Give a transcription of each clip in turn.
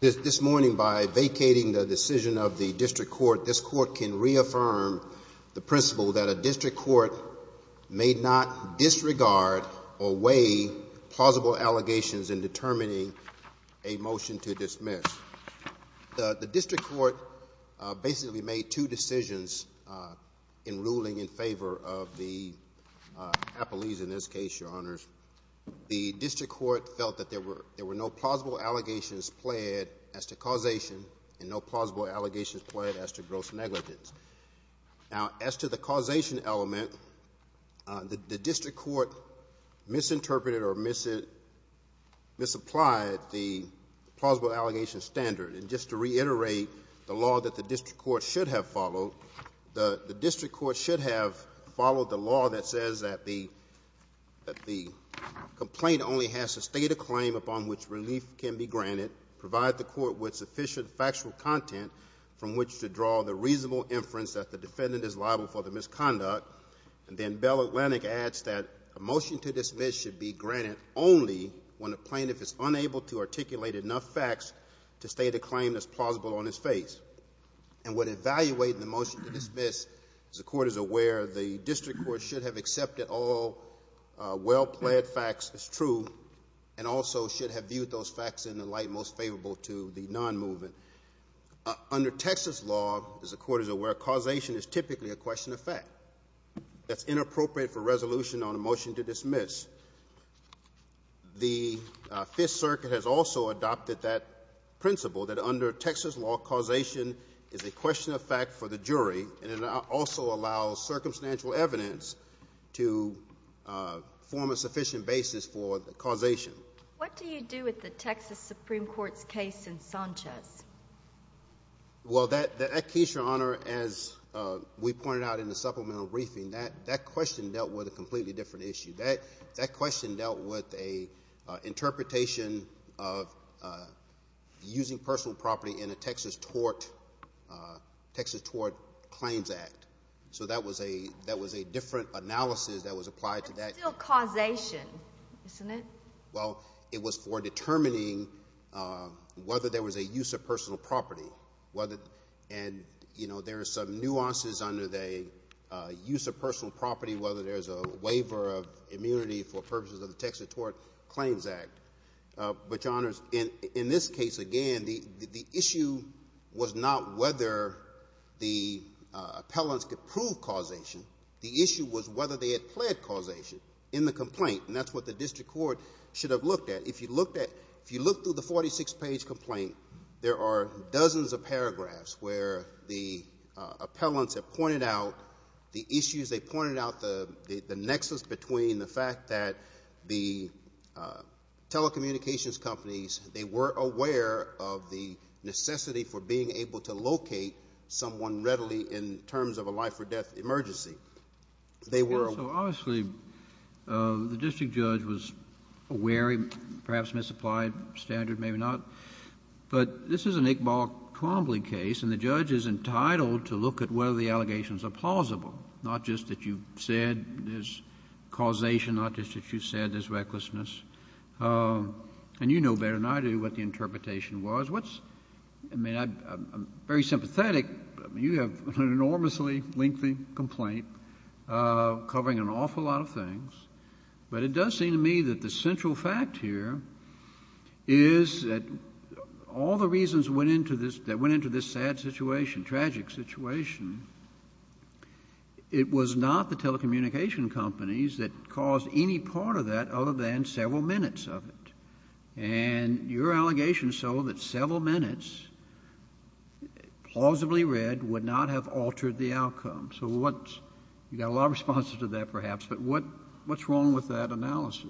This morning, by vacating the decision of the district court, this court can reaffirm the principle that a district court may not disregard or weigh plausible allegations in The district court basically made two decisions in ruling in favor of the appellees. In this case, your honors, the district court felt that there were no plausible allegations pled as to causation and no plausible allegations pled as to gross negligence. Now, as to the causation element, the district court misinterpreted or misapplied the plausible allegations standard. And just to reiterate the law that the district court should have followed, the district court should have followed the law that says that the complaint only has to state a claim upon which relief can be granted, provide the court with sufficient factual content from which to draw the reasonable inference that the defendant is liable for the misconduct, and then Bell Atlantic adds that a motion to dismiss should be granted only when a plaintiff is to state a claim that's plausible on his face. And what evaluates the motion to dismiss, as the court is aware, the district court should have accepted all well-pled facts as true and also should have viewed those facts in the light most favorable to the non-movement. Under Texas law, as the court is aware, causation is typically a question of fact. That's inappropriate for resolution on a motion to dismiss. The Fifth Circuit has also adopted that principle that under Texas law, causation is a question of fact for the jury, and it also allows circumstantial evidence to form a sufficient basis for the causation. What do you do with the Texas Supreme Court's case in Sanchez? Well, that case, Your Honor, as we pointed out in the supplemental briefing, that question dealt with a completely different issue. That question dealt with an interpretation of using personal property in a Texas tort claims act. So that was a different analysis that was applied to that. But it's still causation, isn't it? Well, it was for determining whether there was a use of personal property. And there are some nuances under the use of personal property, whether there's a waiver of immunity for purposes of the Texas Tort Claims Act. But, Your Honors, in this case, again, the issue was not whether the appellants could prove causation. The issue was whether they had pled causation in the complaint, and that's what the district court should have looked at. If you looked at, if you look through the 46-page complaint, there are dozens of paragraphs where the appellants have pointed out the issues, they pointed out the nexus between the fact that the telecommunications companies, they were aware of the necessity for being able to locate someone readily in terms of a life or death emergency. They were. So, obviously, the district judge was aware, perhaps misapplied standard, maybe not. But this is an Iqbal Twombly case, and the judge is entitled to look at whether the allegations are plausible, not just that you said there's causation, not just that you said there's recklessness. And you know better than I do what the interpretation was. What's, I mean, I'm very sympathetic, you have an enormously lengthy complaint covering an awful lot of things. But it does seem to me that the central fact here is that all the reasons that went into this sad situation, tragic situation, it was not the telecommunication companies that caused any part of that other than several minutes of it. And your allegation is so that several minutes, plausibly read, would not have altered the outcome. So what's, you got a lot of responses to that, perhaps, but what's wrong with that analysis?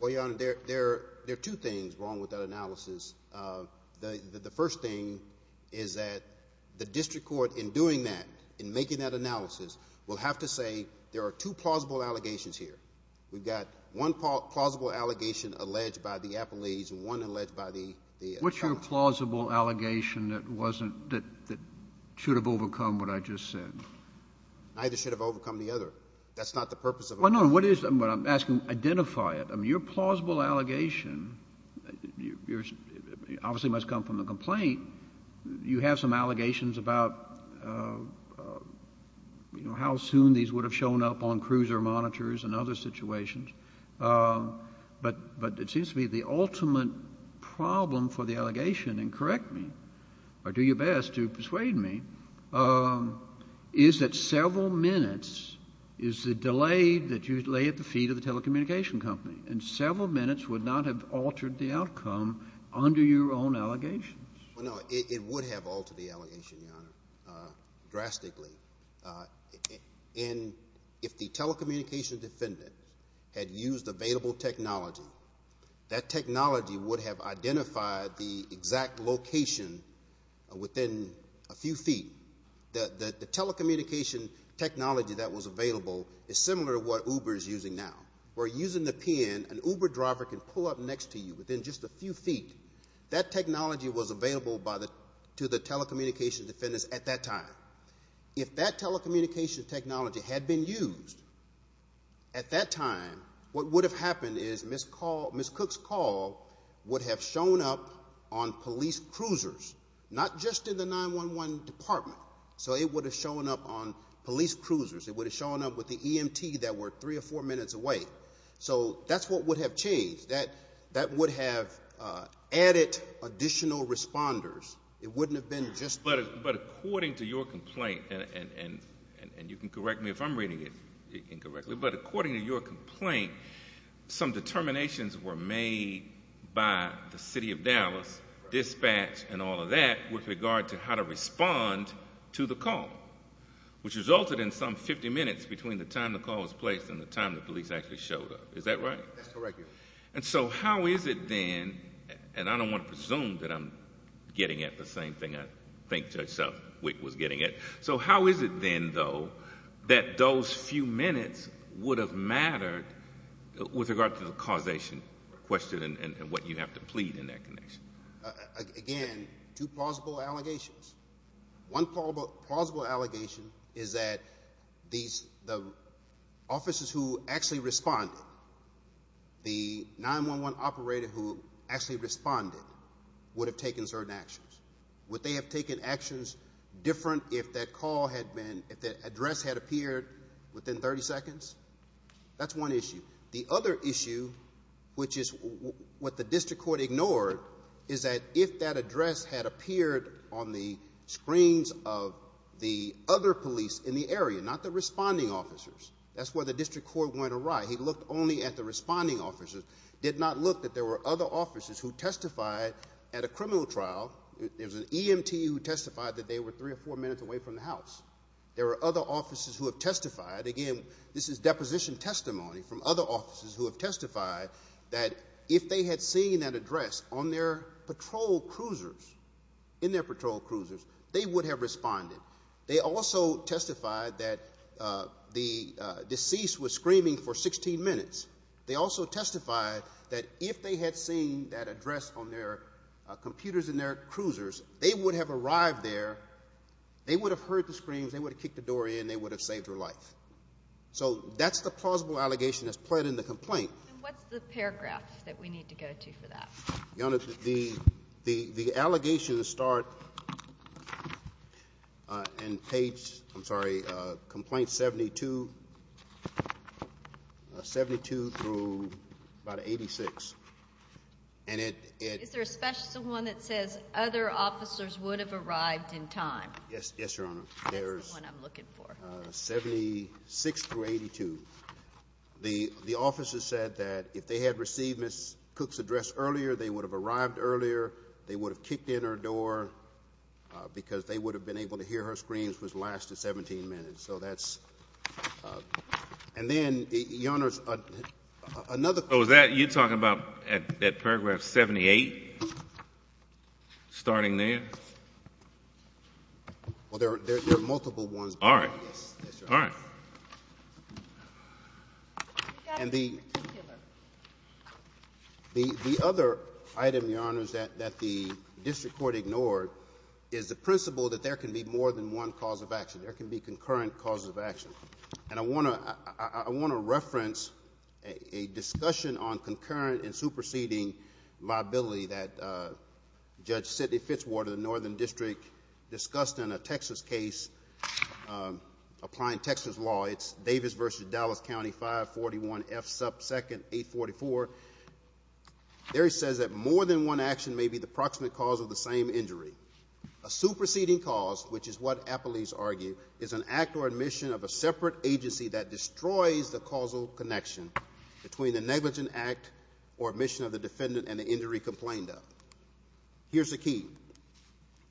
Well, Your Honor, there are two things wrong with that analysis. The first thing is that the district court, in doing that, in making that analysis, will have to say there are two plausible allegations here. We've got one plausible allegation alleged by the appellees and one alleged by the attorneys. What's your plausible allegation that wasn't, that should have overcome what I just said? Neither should have overcome the other. That's not the purpose of it. Well, no, what is, what I'm asking, identify it. I mean, your plausible allegation, obviously it must come from the complaint. You have some allegations about, you know, how soon these would have shown up on cruiser monitors and other situations. But, but it seems to me the ultimate problem for the allegation, and correct me, or do your best to persuade me, is that several minutes is the delay that you lay at the feet of the telecommunication company. And several minutes would not have altered the outcome under your own allegations. Well, no, it would have altered the allegation, Your Honor, drastically. And if the telecommunications defendant had used available technology, that technology would have identified the exact location within a few feet. The telecommunication technology that was available is similar to what Uber is using now, where using the PIN, an Uber driver can pull up next to you within just a few feet. That technology was available to the telecommunications defendants at that time. If that telecommunications technology had been used at that time, what would have happened is Ms. Cook's call would have shown up on police cruisers, not just in the 911 department. So it would have shown up on police cruisers. It would have shown up with the EMT that were three or four minutes away. So that's what would have changed. That would have added additional responders. It wouldn't have been just— But according to your complaint, and you can correct me if I'm reading it incorrectly, but according to your complaint, some determinations were made by the City of Dallas Dispatch and all of that with regard to how to respond to the call, which resulted in some 50 minutes between the time the call was placed and the time the police actually showed up. Is that right? That's correct, Your Honor. And so how is it then—and I don't want to presume that I'm getting at the same thing I think Judge Southwick was getting at—so how is it then, though, that those few minutes would have mattered with regard to the causation question and what you have to plead in that connection? Again, two plausible allegations. One plausible allegation is that the officers who actually responded, the 911 operator who actually responded, would have taken certain actions. Would they have taken actions different if that address had appeared within 30 seconds? That's one issue. The other issue, which is what the district court ignored, is that if that address had appeared on the screens of the other police in the area, not the responding officers— that's where the district court went awry. He looked only at the responding officers, did not look that there were other officers who testified at a criminal trial. There was an EMT who testified that they were three or four minutes away from the house. There were other officers who have testified—again, this is deposition testimony from other officers who have testified—that if they had seen that address on their patrol cruisers, in their patrol cruisers, they would have responded. They also testified that the deceased was screaming for 16 minutes. They also testified that if they had seen that address on their computers in their cruisers, they would have arrived there, they would have heard the screams, they would have kicked the door in, they would have saved their life. So that's the plausible allegation that's pled in the complaint. And what's the paragraph that we need to go to for that? Your Honor, the allegations start in page—I'm sorry—complaint 72, 72 through about 86. Is there a special one that says other officers would have arrived in time? Yes, Your Honor. That's the one I'm looking for. 76 through 82. The officer said that if they had received Ms. Cook's address earlier, they would have arrived earlier, they would have kicked in her door because they would have been able to hear her screams which lasted 17 minutes. So that's—and then, Your Honor, another— Oh, is that what you're talking about at paragraph 78? Starting there? Well, there are multiple ones. All right. Yes, Your Honor. All right. And the other item, Your Honor, that the district court ignored is the principle that there can be more than one cause of action. There can be concurrent causes of action. And I want to reference a discussion on concurrent and superseding liability that Judge Sidney Fitzwater, the northern district, discussed in a Texas case, applying Texas law. It's Davis v. Dallas County, 541F sub 2nd 844. There he says that more than one action may be the proximate cause of the same injury. A superseding cause, which is what Appleese argued, is an act or admission of a separate agency that destroys the causal connection between the negligent act or admission of the defendant and the injury complained of. Here's the key.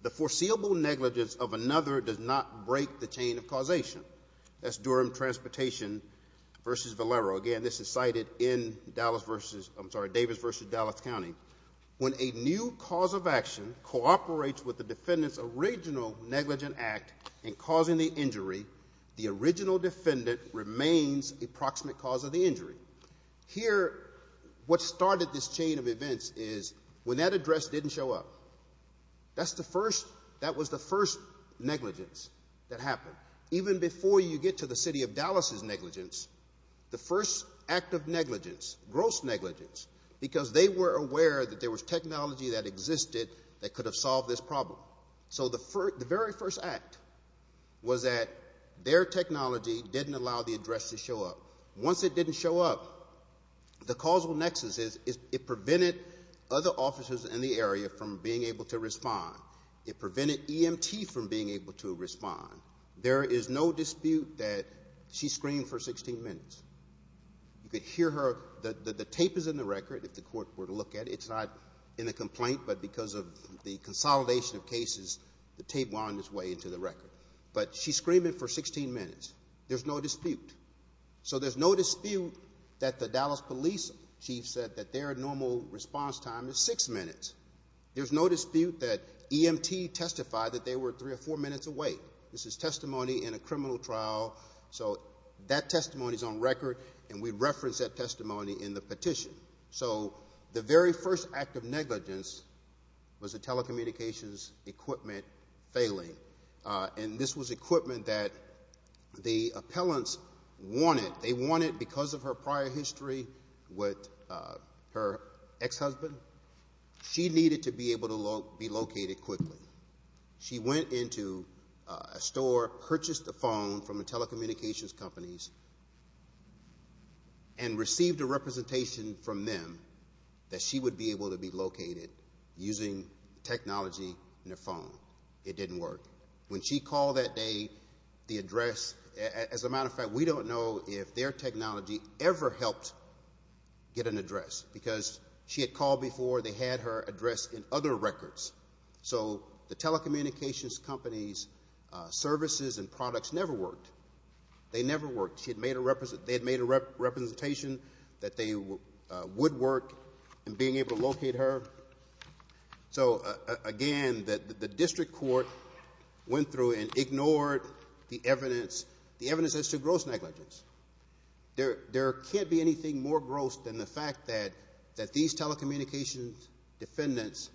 The foreseeable negligence of another does not break the chain of causation. That's Durham Transportation v. Valero. Again, this is cited in Davis v. Dallas County. When a new cause of action cooperates with the defendant's original negligent act in causing the injury, the original defendant remains a proximate cause of the injury. Here, what started this chain of events is when that address didn't show up, that's the first, that was the first negligence that happened. Even before you get to the city of Dallas's negligence, the first act of negligence, gross negligence, because they were aware that there was technology that existed that could have solved this problem. So the very first act was that their technology didn't allow the address to show up. Once it didn't show up, the causal nexus is it prevented other officers in the area from being able to respond. It prevented EMT from being able to respond. There is no dispute that she screamed for 16 minutes. You could hear her. The tape is in the record. If the court were to look at it, it's not in the complaint, but because of the consolidation of cases, the tape wound its way into the record. But she screamed it for 16 minutes. There's no dispute. So there's no dispute that the Dallas police chief said that their normal response time is six minutes. There's no dispute that EMT testified that they were three or four minutes away. This is testimony in a criminal trial. So that testimony is on record, and we reference that testimony in the petition. So the very first act of negligence was the telecommunications equipment failing. And this was equipment that the appellants wanted. They wanted, because of her prior history with her ex-husband, she needed to be able to be located quickly. She went into a store, purchased a phone from the telecommunications companies, and received a representation from them that she would be able to be located using technology in a phone. It didn't work. When she called that day, the address, as a matter of fact, we don't know if their technology ever helped get an address, because she had called before. They had her address in other records. So the telecommunications companies' services and products never worked. They never worked. They had made a representation that they would work in being able to locate her. So, again, the district court went through and ignored the evidence. The evidence is to gross negligence. There can't be anything more gross than the fact that these telecommunications defendants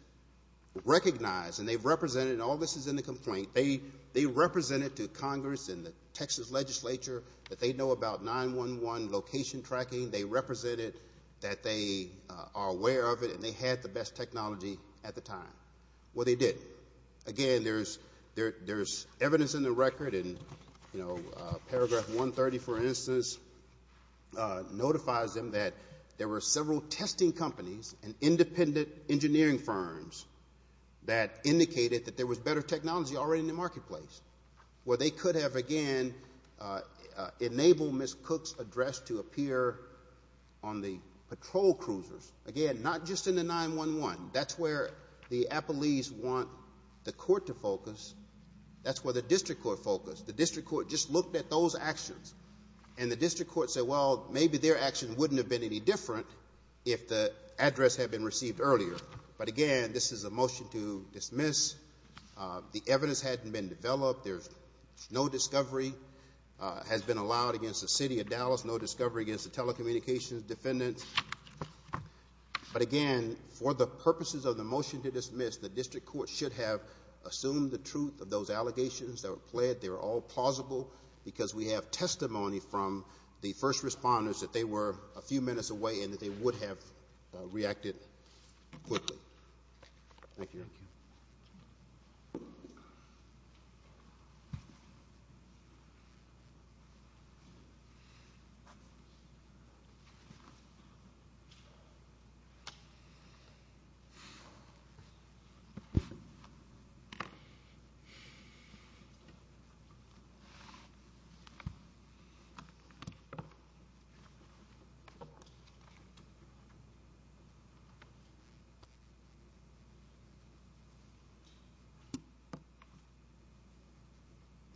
recognize, and they've represented, and all this is in the complaint. They represented to Congress and the Texas legislature that they know about 911 location tracking. They represented that they are aware of it, and they had the best technology at the time. Well, they didn't. Again, there's evidence in the record, and, you know, paragraph 130, for instance, notifies them that there were several testing companies and independent engineering firms that indicated that there was better technology already in the marketplace. Well, they could have, again, enabled Ms. Cook's address to appear on the patrol cruisers. Again, not just in the 911. That's where the appellees want the court to focus. That's where the district court focused. The district court just looked at those actions, and the district court said, well, maybe their action wouldn't have been any different if the address had been received earlier. But, again, this is a motion to dismiss. The evidence hadn't been developed. There's no discovery has been allowed against the city of Dallas, no discovery against the telecommunications defendant. But, again, for the purposes of the motion to dismiss, the district court should have assumed the truth of those allegations that were pled. They were all plausible because we have testimony from the first responders that they were a few minutes away and that they would have reacted quickly. Thank you.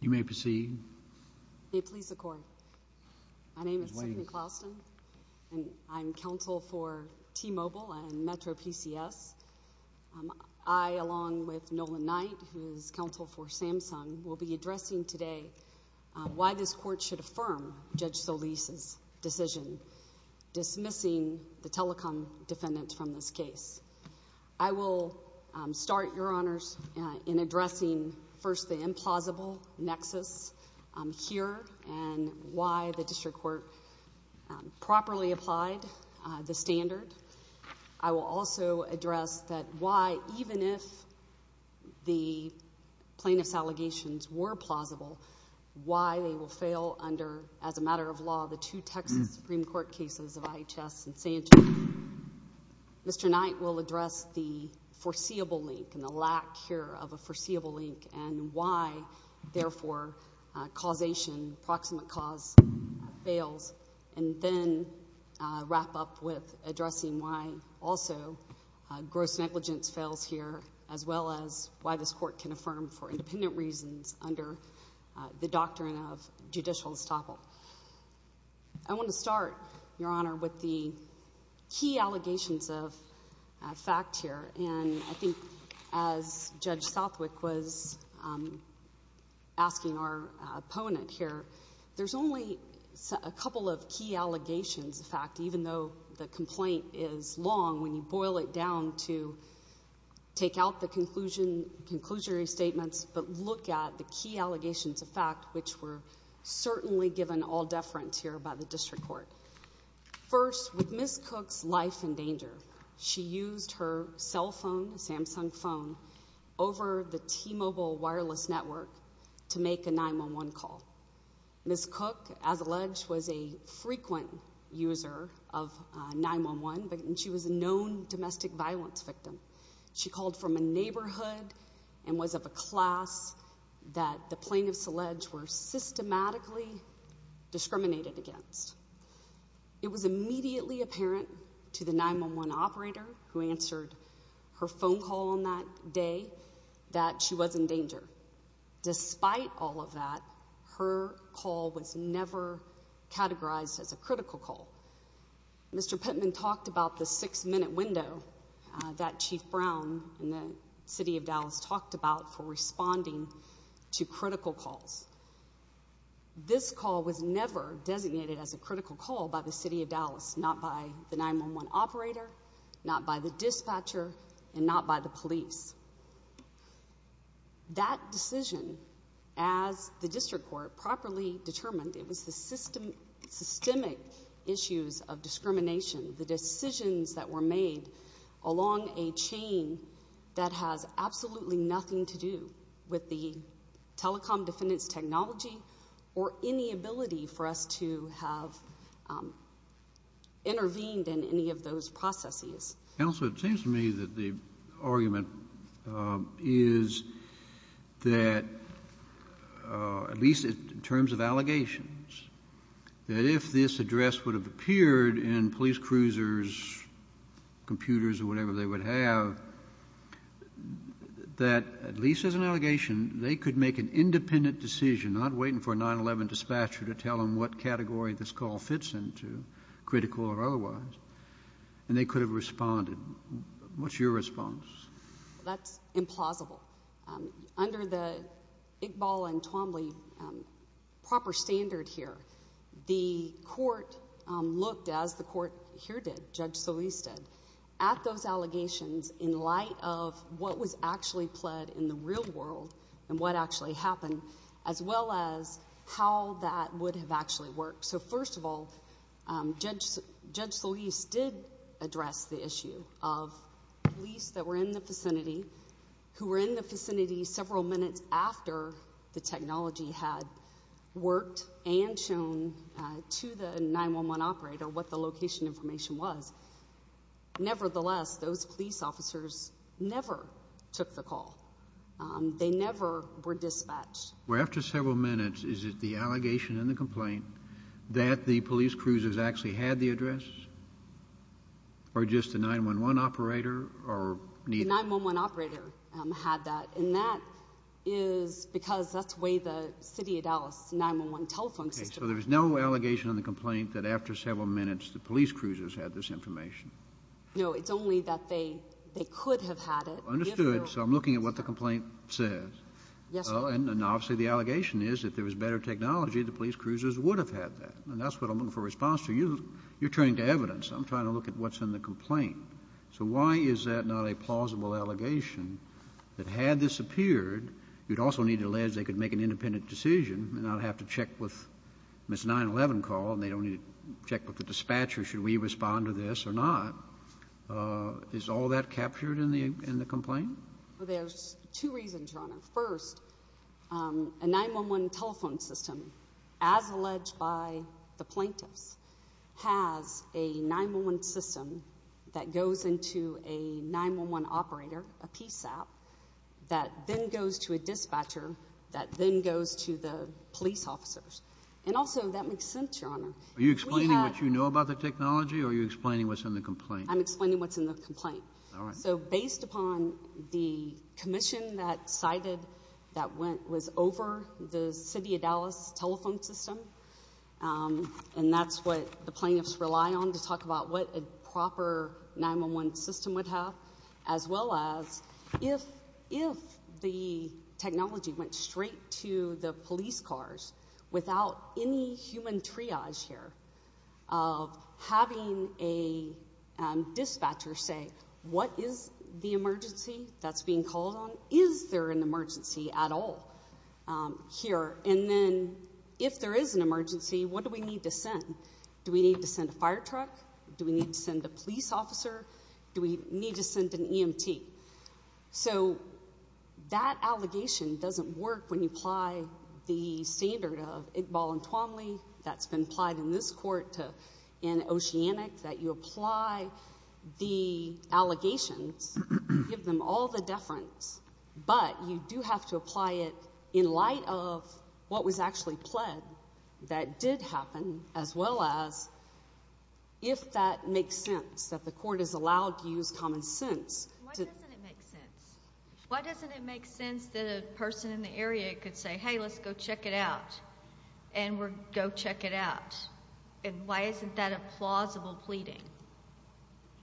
You may proceed. May it please the court. My name is Cindy Clauston, and I'm counsel for T-Mobile and MetroPCS. I, along with Nolan Knight, who's counsel for Samsung, will be addressing today why this court should affirm Judge Solis's decision dismissing the telecom defendant from this case. I will start, Your Honors, in addressing first the implausible nexus here and why the district court properly applied the standard. I will also address that why, even if the plaintiff's allegations were plausible, why they will fail under, as a matter of law, the two Texas Supreme Court cases of IHS and Samsung. Mr. Knight will address the foreseeable link and the lack here of a foreseeable link and why, therefore, causation, proximate cause, fails, and then wrap up with addressing why also gross negligence fails here as well as why this court can affirm for independent reasons under the doctrine of judicial estoppel. I want to start, Your Honor, with the key allegations of fact here. And I think as Judge Southwick was asking our opponent here, there's only a couple of key allegations of fact, even though the complaint is long when you boil it down to take out the conclusion, conclusory statements, but look at the key allegations of fact, which were certainly given all deference here by the district court. First, with Ms. Cook's life in danger, she used her cell phone, Samsung phone, over the T-Mobile wireless network to make a 911 call. Ms. Cook, as alleged, was a frequent user of 911, and she was a known domestic violence victim. She called from a neighborhood and was of a class that the plaintiffs alleged were systematically discriminated against. It was immediately apparent to the 911 operator who answered her phone call on that day that she was in danger. Despite all of that, her call was never categorized as a critical call. Mr. Pittman talked about the six-minute window that Chief Brown in the City of Dallas talked about for responding to critical calls. This call was never designated as a critical call by the City of Dallas, not by the 911 operator, not by the dispatcher, and not by the police. That decision, as the district court properly determined, it was the systemic issues of discrimination, the decisions that were made along a chain that has absolutely nothing to do with the telecom defendant's technology or any ability for us to have intervened in any of those processes. Counsel, it seems to me that the argument is that, at least in terms of what this address would have appeared in police cruisers, computers, or whatever they would have, that, at least as an allegation, they could make an independent decision, not waiting for a 911 dispatcher to tell them what category this call fits into, critical or otherwise, and they could have responded. What's your response? That's implausible. Under the Iqbal and Twombly proper standard here, the court looked, as the court here did, Judge Solis did, at those allegations in light of what was actually pled in the real world and what actually happened, as well as how that would have actually worked. First of all, Judge Solis did address the issue of police that were in the vicinity several minutes after the technology had worked and shown to the 911 operator what the location information was. Nevertheless, those police officers never took the call. They never were dispatched. Well, after several minutes, is it the allegation in the complaint that the police cruisers actually had the address or just the 911 operator or neither? The 911 operator had that, and that is because that's the way the city of Dallas' 911 telephone system works. Okay. So there's no allegation in the complaint that after several minutes the police cruisers had this information? No. It's only that they could have had it. Understood. So I'm looking at what the complaint says. Yes, sir. And obviously the allegation is if there was better technology, the police cruisers would have had that, and that's what I'm looking for a response to. You're turning to evidence. I'm trying to look at what's in the complaint. So why is that not a plausible allegation that had this appeared, you'd also need to allege they could make an independent decision and not have to check with Miss 911 call and they don't need to check with the dispatcher should we respond to this or not. Is all that captured in the complaint? Well, there's two reasons, Your Honor. First, a 911 telephone system, as alleged by the plaintiffs, has a 911 system that goes into a 911 operator, a PSAP, that then goes to a dispatcher, that then goes to the police officers. And also that makes sense, Your Honor. Are you explaining what you know about the technology or are you explaining what's in the complaint? I'm explaining what's in the complaint. All right. So based upon the commission that cited that was over the city of Dallas telephone system, and that's what the plaintiffs rely on to talk about what a proper 911 system would have, as well as if the technology went straight to the police cars without any human triage here of having a dispatcher say, what is the emergency that's being called on? Is there an emergency at all here? And then if there is an emergency, what do we need to send? Do we need to send a fire truck? Do we need to send a police officer? Do we need to send an EMT? So that allegation doesn't work when you apply the standard of Iqbal and Twomley that's been applied in this court in Oceanic, that you apply the allegations, give them all the deference, but you do have to apply it in light of what was If that makes sense, that the court is allowed to use common sense. Why doesn't it make sense? Why doesn't it make sense that a person in the area could say, hey, let's go check it out, and we'll go check it out? And why isn't that a plausible pleading?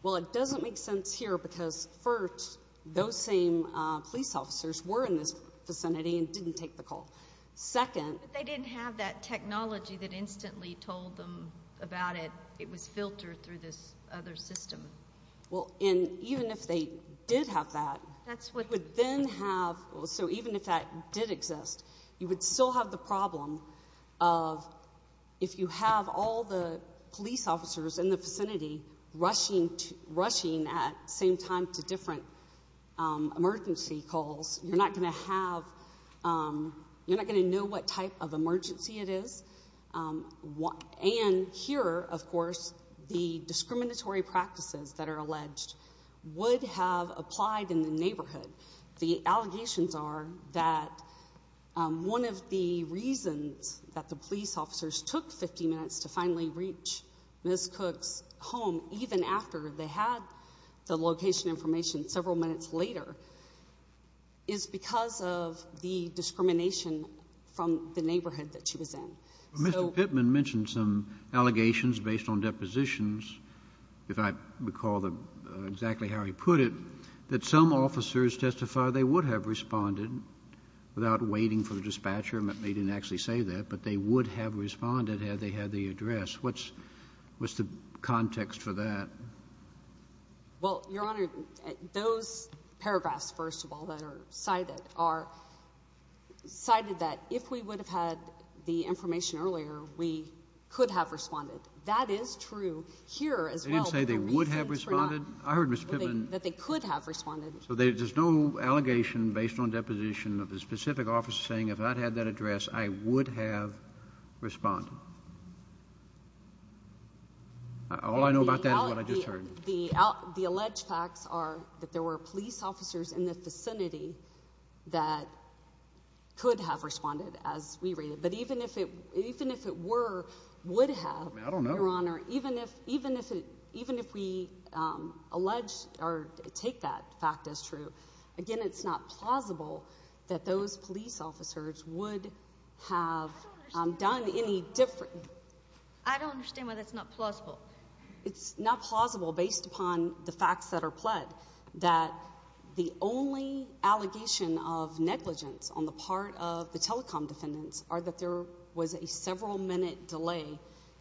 Well, it doesn't make sense here because, first, those same police officers were in this vicinity and didn't take the call. Second. But they didn't have that technology that instantly told them about it. It was filtered through this other system. Well, and even if they did have that, you would then have, so even if that did exist, you would still have the problem of if you have all the police officers in the vicinity rushing at the same time to different emergency calls, you're not going to have, you're not going to know what type of emergency it is. And here, of course, the discriminatory practices that are alleged would have applied in the neighborhood. The allegations are that one of the reasons that the police officers took 50 minutes to finally reach Ms. Cook's home, even after they had the location information several minutes later, is because of the discrimination from the neighborhood that she was in. Mr. Pittman mentioned some allegations based on depositions, if I recall exactly how he put it, that some officers testified they would have responded without waiting for the dispatcher. They didn't actually say that, but they would have responded had they had the address. What's the context for that? Well, Your Honor, those paragraphs, first of all, that are cited are cited that if we would have had the information earlier, we could have responded. That is true here as well. They didn't say they would have responded? I heard, Mr. Pittman. That they could have responded. So there's no allegation based on deposition of a specific officer saying, if I'd had that address, I would have responded? All I know about that is what I just heard. The alleged facts are that there were police officers in the vicinity that could have responded, as we read it. But even if it were, would have, Your Honor, even if we allege or take that fact as true, again, it's not plausible that those police officers would have done any different. I don't understand why that's not plausible. It's not plausible based upon the facts that are pled that the only allegation of negligence on the part of the telecom defendants are that there was a several-minute delay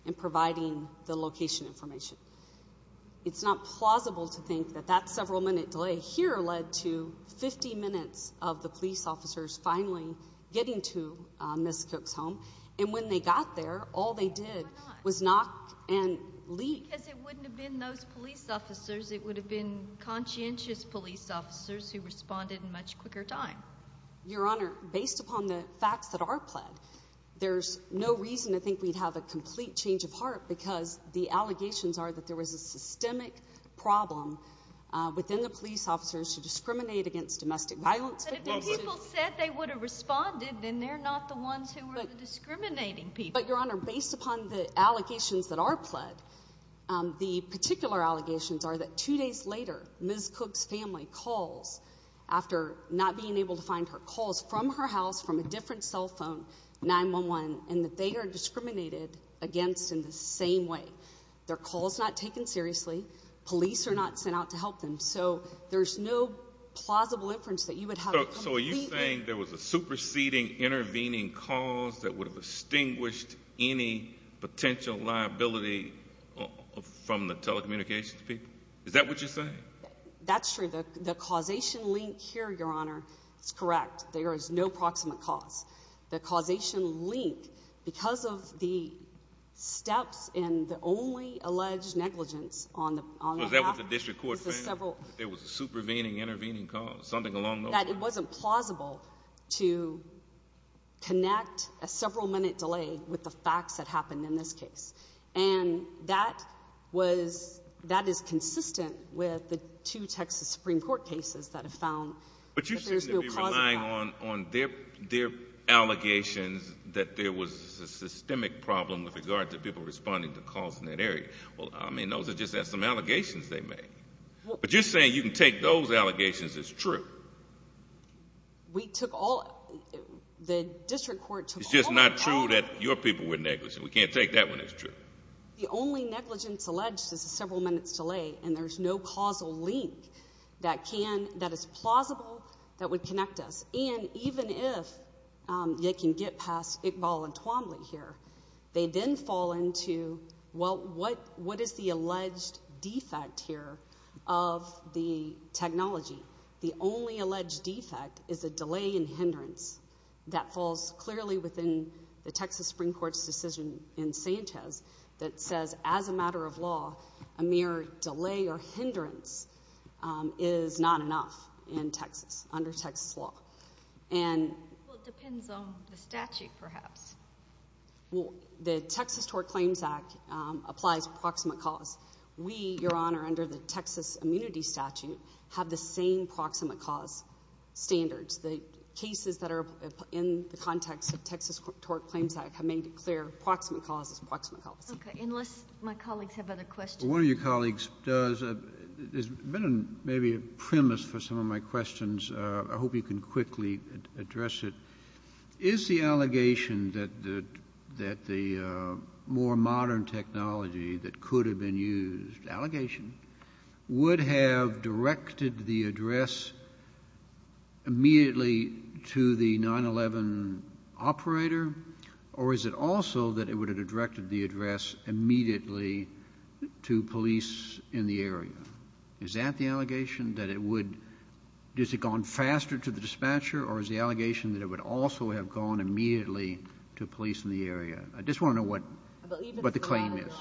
in providing the location information. It's not plausible to think that that several-minute delay here led to 50 minutes of the police officers finally getting to Ms. Cook's home. And when they got there, all they did was knock and leave. Because it wouldn't have been those police officers. It would have been conscientious police officers who responded in much quicker time. Your Honor, based upon the facts that are pled, there's no reason to think we'd have a complete change of heart because the allegations are that there was a systemic problem within the police officers to discriminate against domestic violence victims. But if the people said they would have responded, then they're not the ones who are discriminating people. But, Your Honor, based upon the allegations that are pled, the particular allegations are that two days later, Ms. Cook's family calls after not being able to find her calls from her house, from a different cell phone, 911, and that they are discriminated against in the same way. Their call is not taken seriously. Police are not sent out to help them. So there's no plausible inference that you would have a complete change. So are you saying there was a superseding intervening cause that would have extinguished any potential liability from the telecommunications people? Is that what you're saying? That's true. The causation link here, Your Honor, is correct. There is no proximate cause. The causation link, because of the steps and the only alleged negligence on the matter. So is that what the district court found, that there was a supervening intervening cause, something along those lines? That it wasn't plausible to connect a several-minute delay with the facts that happened in this case. And that is consistent with the two Texas Supreme Court cases that have found that there's no cause for that. But you seem to be relying on their allegations that there was a systemic problem with regard to people responding to calls in that area. Well, I mean, those are just some allegations they made. But you're saying you can take those allegations as true. We took all of them. The district court took all of them. It's just not true that your people were negligent. We can't take that one as true. The only negligence alleged is a several-minute delay, and there's no causal link that is plausible that would connect us. And even if they can get past Iqbal and Twombly here, they then fall into, well, what is the alleged defect here of the technology? The only alleged defect is a delay in hindrance that falls clearly within the Texas Supreme Court's decision in Sanchez that says as a matter of law, a mere delay or hindrance is not enough in Texas under Texas law. Well, it depends on the statute, perhaps. Well, the Texas Tort Claims Act applies proximate cause. We, Your Honor, under the Texas Immunity Statute, have the same proximate cause standards. The cases that are in the context of Texas Tort Claims Act have made it clear proximate cause is proximate policy. Okay, unless my colleagues have other questions. One of your colleagues does. There's been maybe a premise for some of my questions. I hope you can quickly address it. Is the allegation that the more modern technology that could have been used, would have directed the address immediately to the 9-11 operator, or is it also that it would have directed the address immediately to police in the area? Is that the allegation, that it would have gone faster to the dispatcher, or is the allegation that it would also have gone immediately to police in the area? I just want to know what the claim is.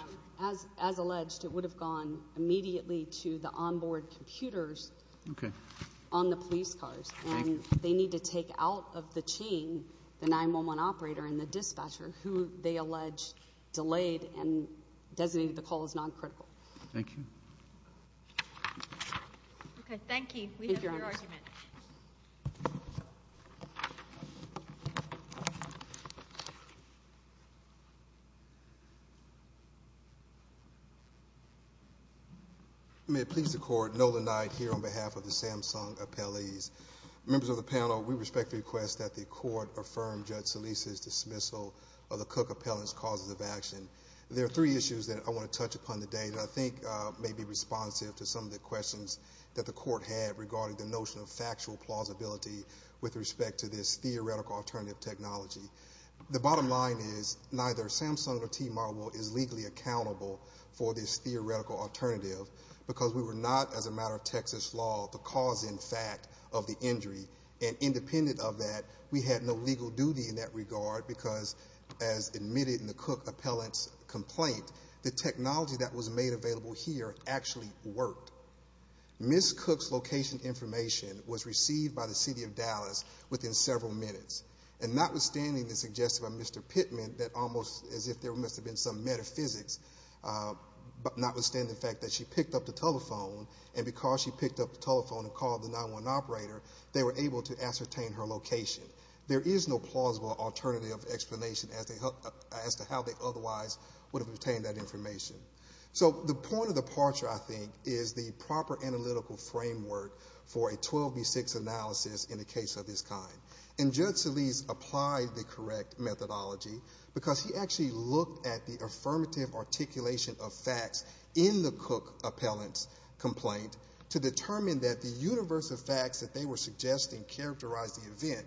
As alleged, it would have gone immediately to the onboard computers on the police cars, and they need to take out of the chain the 9-11 operator and the dispatcher, who they allege delayed and designated the call as noncritical. Thank you. Okay, thank you. We have your argument. May it please the Court, Nolan Knight here on behalf of the Samsung appellees. Members of the panel, we respectfully request that the Court affirm Judge Solis' dismissal of the Cook appellant's causes of action. There are three issues that I want to touch upon today that I think may be responsive to some of the questions that the Court had regarding the notion of factual plausibility with respect to this theoretical alternative technology. The bottom line is neither Samsung nor T-Marble is legally accountable for this theoretical alternative because we were not, as a matter of Texas law, the cause, in fact, of the injury. Independent of that, we had no legal duty in that regard because, as admitted in the Cook appellant's complaint, the technology that was made available here actually worked. Ms. Cook's location information was received by the City of Dallas within several minutes. Notwithstanding the suggestion by Mr. Pittman that almost as if there must have been some metaphysics, notwithstanding the fact that she picked up the telephone and because she picked up the telephone and called the 911 operator, they were able to ascertain her location. There is no plausible alternative explanation as to how they otherwise would have obtained that information. So the point of departure, I think, is the proper analytical framework for a 12B6 analysis in a case of this kind. And Judge Solis applied the correct methodology because he actually looked at the affirmative articulation of facts in the Cook appellant's complaint to determine that the universe of facts that they were suggesting characterized the event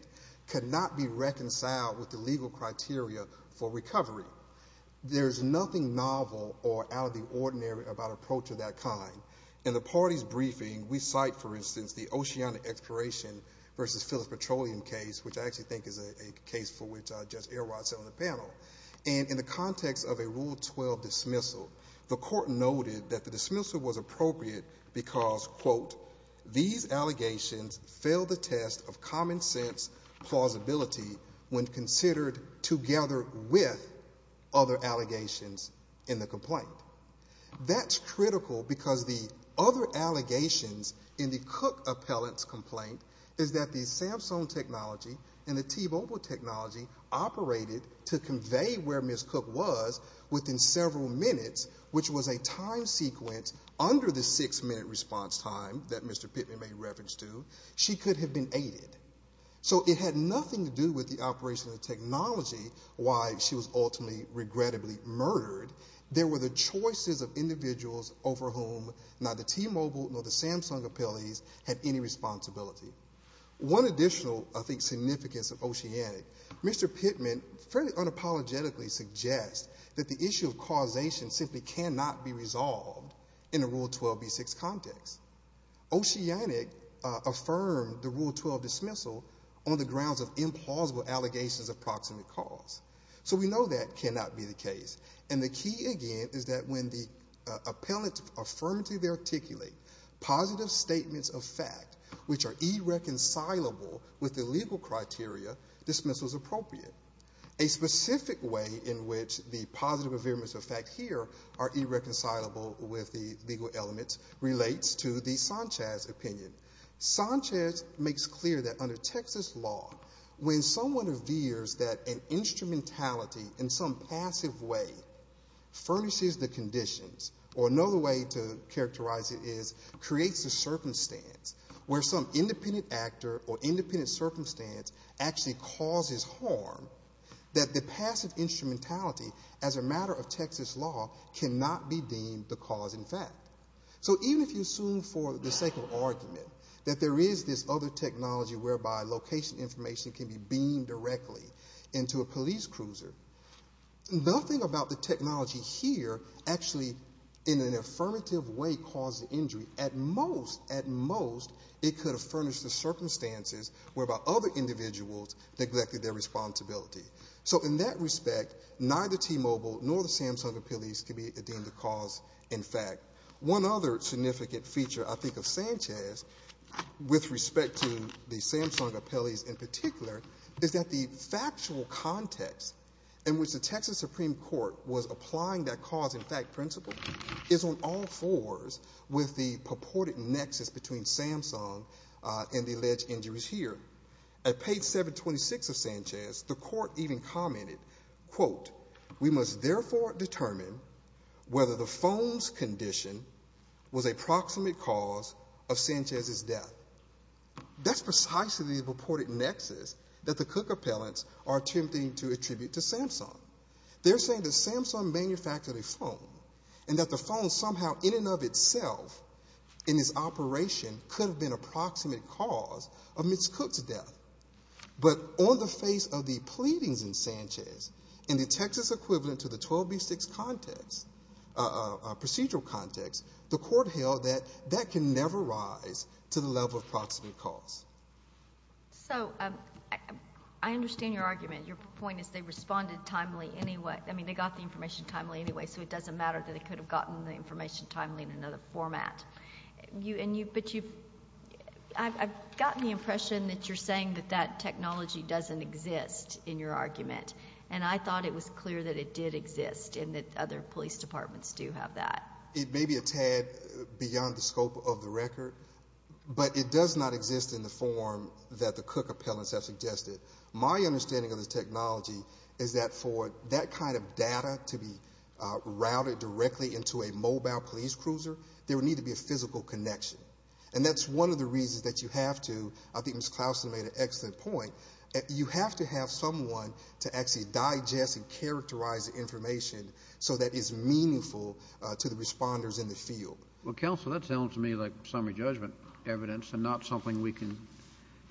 could not be reconciled with the legal criteria for recovery. There is nothing novel or out of the ordinary about an approach of that kind. In the party's briefing, we cite, for instance, the Oceanic Exploration v. Phyllis Petroleum case, which I actually think is a case for which Judge Erwot said on the panel. And in the context of a Rule 12 dismissal, the court noted that the dismissal was appropriate because, quote, these allegations fail the test of common sense plausibility when considered together with other allegations in the complaint. That's critical because the other allegations in the Cook appellant's complaint is that the Samsung technology and the T-Mobile technology operated to convey where Ms. Cook was within several minutes, which was a time sequence under the six-minute response time that Mr. Pittman made reference to. She could have been aided. So it had nothing to do with the operation of the technology, why she was ultimately regrettably murdered. There were the choices of individuals over whom neither T-Mobile nor the Samsung appellees had any responsibility. One additional, I think, significance of Oceanic, Mr. Pittman fairly unapologetically suggests that the issue of causation simply cannot be resolved in a Rule 12b-6 context. Oceanic affirmed the Rule 12 dismissal on the grounds of implausible allegations of proximate cause. So we know that cannot be the case. And the key, again, is that when the appellants affirmatively articulate positive statements of fact which are irreconcilable with the legal criteria, dismissal is appropriate. A specific way in which the positive affirmations of fact here are irreconcilable with the legal elements relates to the Sanchez opinion. Sanchez makes clear that under Texas law, when someone reveres that an instrumentality in some passive way furnishes the conditions, or another way to characterize it is creates a circumstance where some independent actor or independent circumstance actually causes harm, that the passive instrumentality as a matter of Texas law cannot be deemed the cause in fact. So even if you assume for the sake of argument that there is this other technology whereby location information can be beamed directly into a police cruiser, nothing about the technology here actually in an affirmative way caused the injury. At most, at most, it could have furnished the circumstances whereby other individuals neglected their responsibility. So in that respect, neither T-Mobile nor the Samsung Appellees can be deemed the cause in fact. One other significant feature, I think, of Sanchez with respect to the Samsung Appellees in particular is that the factual context in which the Texas Supreme Court was applying that cause in fact principle is on all fours with the purported nexus between Samsung and the alleged injuries here. At page 726 of Sanchez, the court even commented, quote, We must therefore determine whether the phone's condition was a proximate cause of Sanchez's death. That's precisely the purported nexus that the Cook appellants are attempting to attribute to Samsung. They're saying that Samsung manufactured a phone and that the phone somehow in and of itself in its operation could have been a proximate cause of Ms. Cook's death. But on the face of the pleadings in Sanchez in the Texas equivalent to the 12B6 context, procedural context, the court held that that can never rise to the level of proximate cause. So I understand your argument. Your point is they responded timely anyway. I mean, they got the information timely anyway, so it doesn't matter that it could have gotten the information timely in another format. But you... I've gotten the impression that you're saying that that technology doesn't exist in your argument, and I thought it was clear that it did exist and that other police departments do have that. It may be a tad beyond the scope of the record, but it does not exist in the form that the Cook appellants have suggested. My understanding of the technology is that for that kind of data to be routed directly into a mobile police cruiser, there would need to be a physical connection. And that's one of the reasons that you have to... I think Ms. Clauston made an excellent point. You have to have someone to actually digest and characterize the information so that it's meaningful to the responders in the field. Well, counsel, that sounds to me like summary judgment evidence and not something we can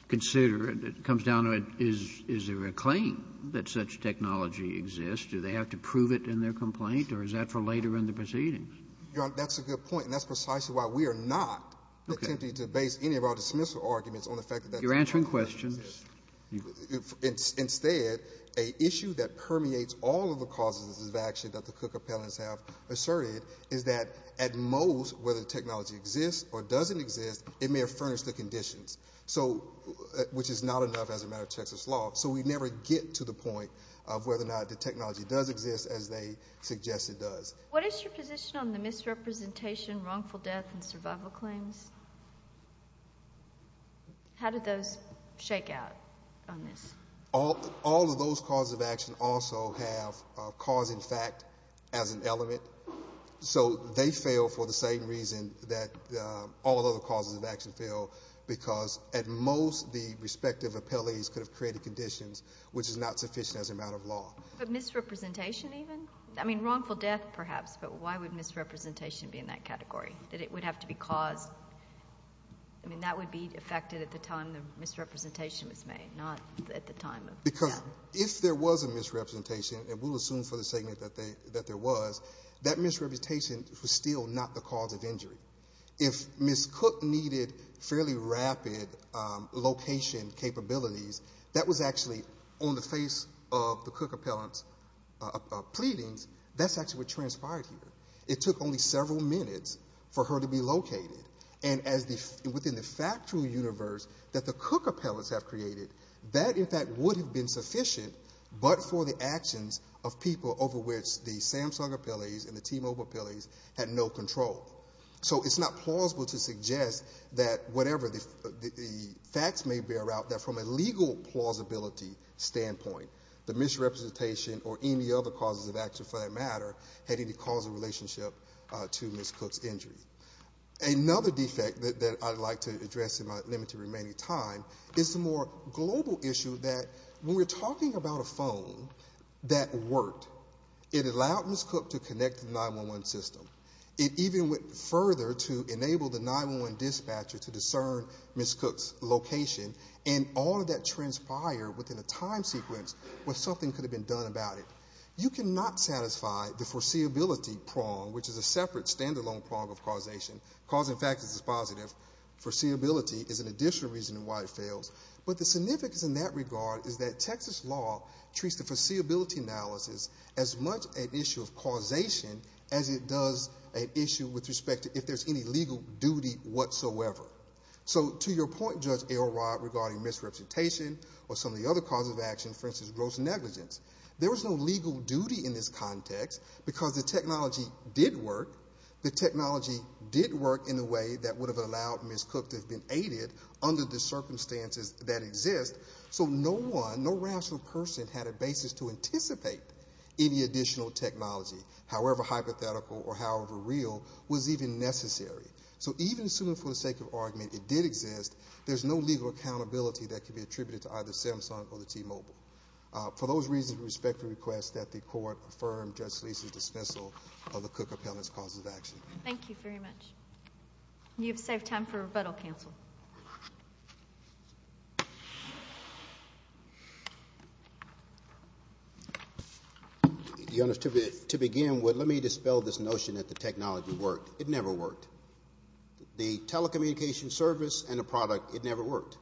consider. It comes down to, is there a claim that such technology exists? Do they have to prove it in their complaint, or is that for later in the proceedings? Your Honor, that's a good point, and that's precisely why we are not attempting to base any of our dismissal arguments on the fact... You're answering questions. Instead, an issue that permeates all of the causes of action that the Cook appellants have asserted is that at most, whether the technology exists or doesn't exist, it may have furnished the conditions, which is not enough as a matter of Texas law. So we never get to the point of whether or not the technology does exist as they suggest it does. What is your position on the misrepresentation, wrongful death, and survival claims? How do those shake out on this? All of those causes of action also have cause in fact as an element, so they fail for the same reason that all other causes of action fail, because at most, the respective appellees could have created conditions which is not sufficient as a matter of law. But misrepresentation even? I mean, wrongful death perhaps, but why would misrepresentation be in that category? That it would have to be caused? I mean, that would be affected at the time the misrepresentation was made, not at the time of the death. Because if there was a misrepresentation, and we'll assume for the segment that there was, that misrepresentation was still not the cause of injury. If Ms. Cook needed fairly rapid location capabilities, that was actually on the face of the Cook appellants' pleadings, that's actually what transpired here. It took only several minutes for her to be located. And within the factual universe that the Cook appellants have created, that in fact would have been sufficient, but for the actions of people over which the Samsung appellees and the T-Mobile appellees had no control. So it's not plausible to suggest that whatever the facts may bear out, that from a legal plausibility standpoint, the misrepresentation or any other causes of action for that matter had any causal relationship to Ms. Cook's injury. Another defect that I'd like to address in my limited remaining time is the more global issue that when we're talking about a phone that worked, it allowed Ms. Cook to connect to the 911 system. It even went further to enable the 911 dispatcher to discern Ms. Cook's location and all of that transpired within a time sequence where something could have been done about it. You cannot satisfy the foreseeability prong, which is a separate stand-alone prong of causation. Causing factors is positive. Foreseeability is an additional reason why it fails. But the significance in that regard is that Texas law treats the foreseeability analysis as much an issue of causation as it does an issue with respect to if there's any legal duty whatsoever. So to your point, Judge Elrod, regarding misrepresentation or some of the other causes of action, for instance, gross negligence, there was no legal duty in this context because the technology did work. The technology did work in a way that would have allowed Ms. Cook to have been aided under the circumstances that exist. So no one, no rational person, had a basis to anticipate any additional technology, however hypothetical or however real, was even necessary. So even assuming for the sake of argument it did exist, there's no legal accountability that can be attributed to either Samsung or the T-Mobile. For those reasons, we respectfully request that the Court affirm Judge Solisa's dismissal of the Cook appellant's cause of action. Thank you very much. You have saved time for rebuttal, counsel. Your Honor, to begin, let me dispel this notion that the technology worked. It never worked. The telecommunications service and the product, it never worked.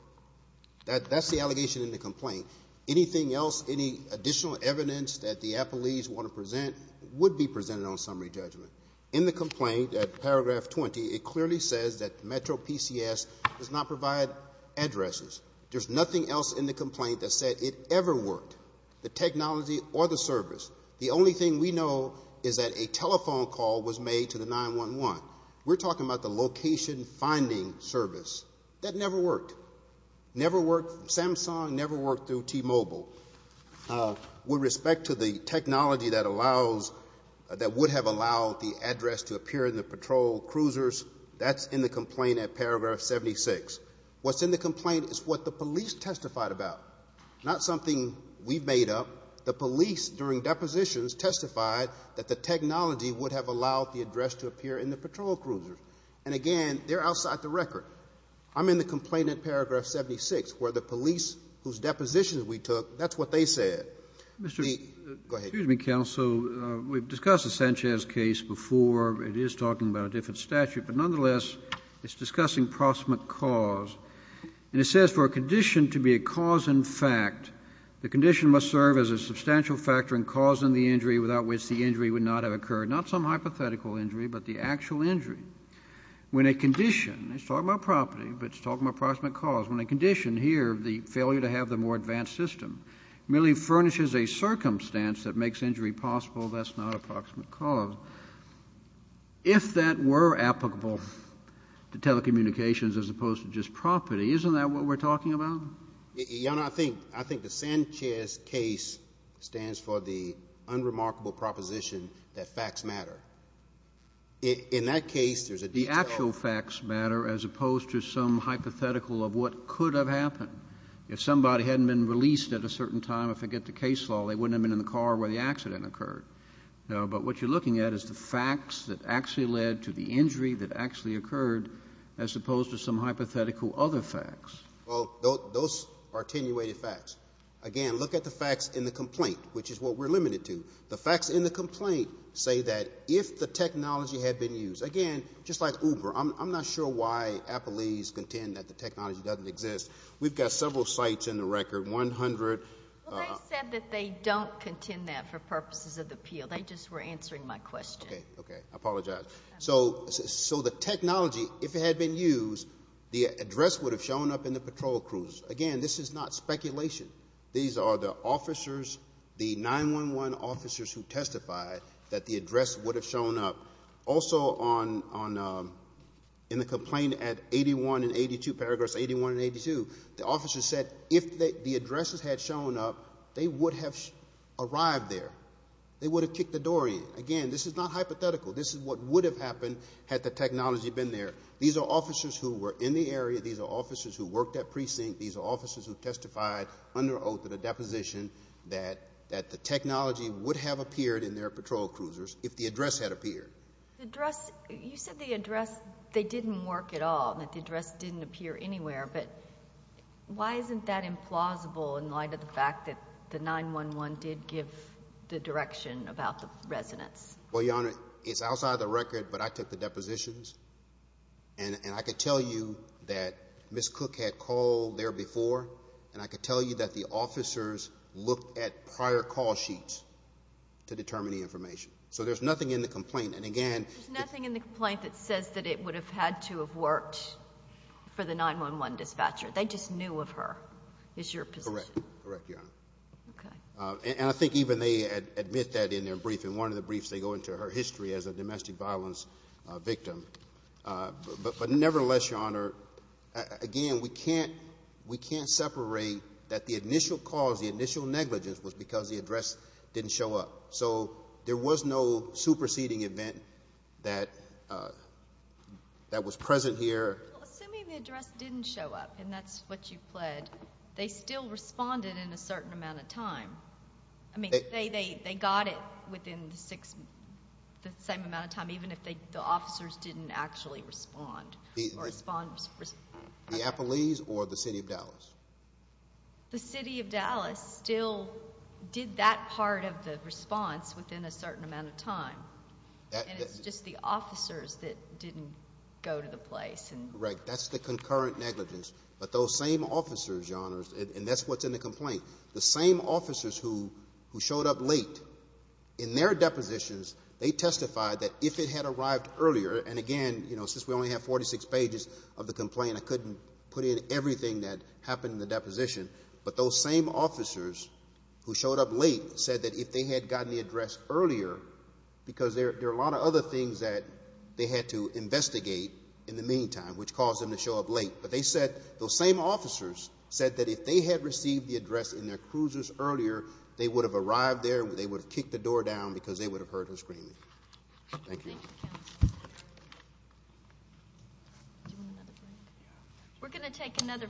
That's the allegation in the complaint. Anything else, any additional evidence that the appellees want to present would be presented on summary judgment. In the complaint at paragraph 20, it clearly says that Metro PCS does not provide addresses. There's nothing else in the complaint that said it ever worked, the technology or the service. The only thing we know is that a telephone call was made to the 911. We're talking about the location-finding service. That never worked. Samsung never worked through T-Mobile. With respect to the technology that would have allowed the address to appear in the patrol cruisers, that's in the complaint at paragraph 76. What's in the complaint is what the police testified about, not something we've made up. The police, during depositions, testified that the technology would have allowed the address to appear in the patrol cruisers. And again, they're outside the record. I'm in the complaint at paragraph 76 where the police, whose depositions we took, that's what they said. Go ahead. Excuse me, counsel. We've discussed the Sanchez case before. It is talking about a different statute, but nonetheless it's discussing proximate cause. And it says for a condition to be a cause in fact, the condition must serve as a substantial factor in causing the injury without which the injury would not have occurred. Not some hypothetical injury, but the actual injury. When a condition, it's talking about property, but it's talking about proximate cause. When a condition, here the failure to have the more advanced system, merely furnishes a circumstance that makes injury possible, that's not a proximate cause. If that were applicable to telecommunications as opposed to just property, isn't that what we're talking about? Your Honor, I think the Sanchez case stands for the unremarkable proposition that facts matter. In that case, there's a detail. The actual facts matter as opposed to some hypothetical of what could have happened. If somebody hadn't been released at a certain time, if they get the case law, they wouldn't have been in the car where the accident occurred. But what you're looking at is the facts that actually led to the injury that actually occurred as opposed to some hypothetical other facts. Well, those are attenuated facts. Again, look at the facts in the complaint, which is what we're limited to. The facts in the complaint say that if the technology had been used. Again, just like Uber. I'm not sure why Applees contend that the technology doesn't exist. We've got several sites in the record, 100. Well, they said that they don't contend that for purposes of appeal. They just were answering my question. Okay. Okay. I apologize. I apologize. So the technology, if it had been used, the address would have shown up in the patrol crews. Again, this is not speculation. These are the officers, the 911 officers who testified that the address would have shown up. Also, in the complaint at 81 and 82, paragraphs 81 and 82, the officers said if the addresses had shown up, they would have arrived there. They would have kicked the door in. Again, this is not hypothetical. This is what would have happened had the technology been there. These are officers who were in the area. These are officers who worked at precinct. These are officers who testified under oath at a deposition that the technology would have appeared in their patrol cruisers if the address had appeared. You said the address, they didn't work at all, that the address didn't appear anywhere. But why isn't that implausible in light of the fact that the 911 did give the direction about the residents? Well, Your Honor, it's outside of the record, but I took the depositions, and I could tell you that Ms. Cook had called there before, and I could tell you that the officers looked at prior call sheets to determine the information. So there's nothing in the complaint. And, again, There's nothing in the complaint that says that it would have had to have worked for the 911 dispatcher. They just knew of her is your position. Correct, Your Honor. Okay. And I think even they admit that in their briefing. One of the briefs, they go into her history as a domestic violence victim. But nevertheless, Your Honor, again, we can't separate that the initial cause, the initial negligence, was because the address didn't show up. So there was no superseding event that was present here. Well, assuming the address didn't show up, and that's what you pled, they still responded in a certain amount of time. I mean, they got it within the same amount of time, even if the officers didn't actually respond. The Appalese or the City of Dallas? The City of Dallas still did that part of the response within a certain amount of time. And it's just the officers that didn't go to the place. Correct. That's the concurrent negligence. But those same officers, Your Honor, and that's what's in the complaint, the same officers who showed up late in their depositions, they testified that if it had arrived earlier, and again, you know, since we only have 46 pages of the complaint, I couldn't put in everything that happened in the deposition. But those same officers who showed up late said that if they had gotten the address earlier, because there are a lot of other things that they had to investigate in the meantime, which caused them to show up late. But they said those same officers said that if they had received the address in their cruises earlier, they would have arrived there, they would have kicked the door down, because they would have heard her scream. Thank you. Thank you, counsel. Do you want another break? We're going to take another break.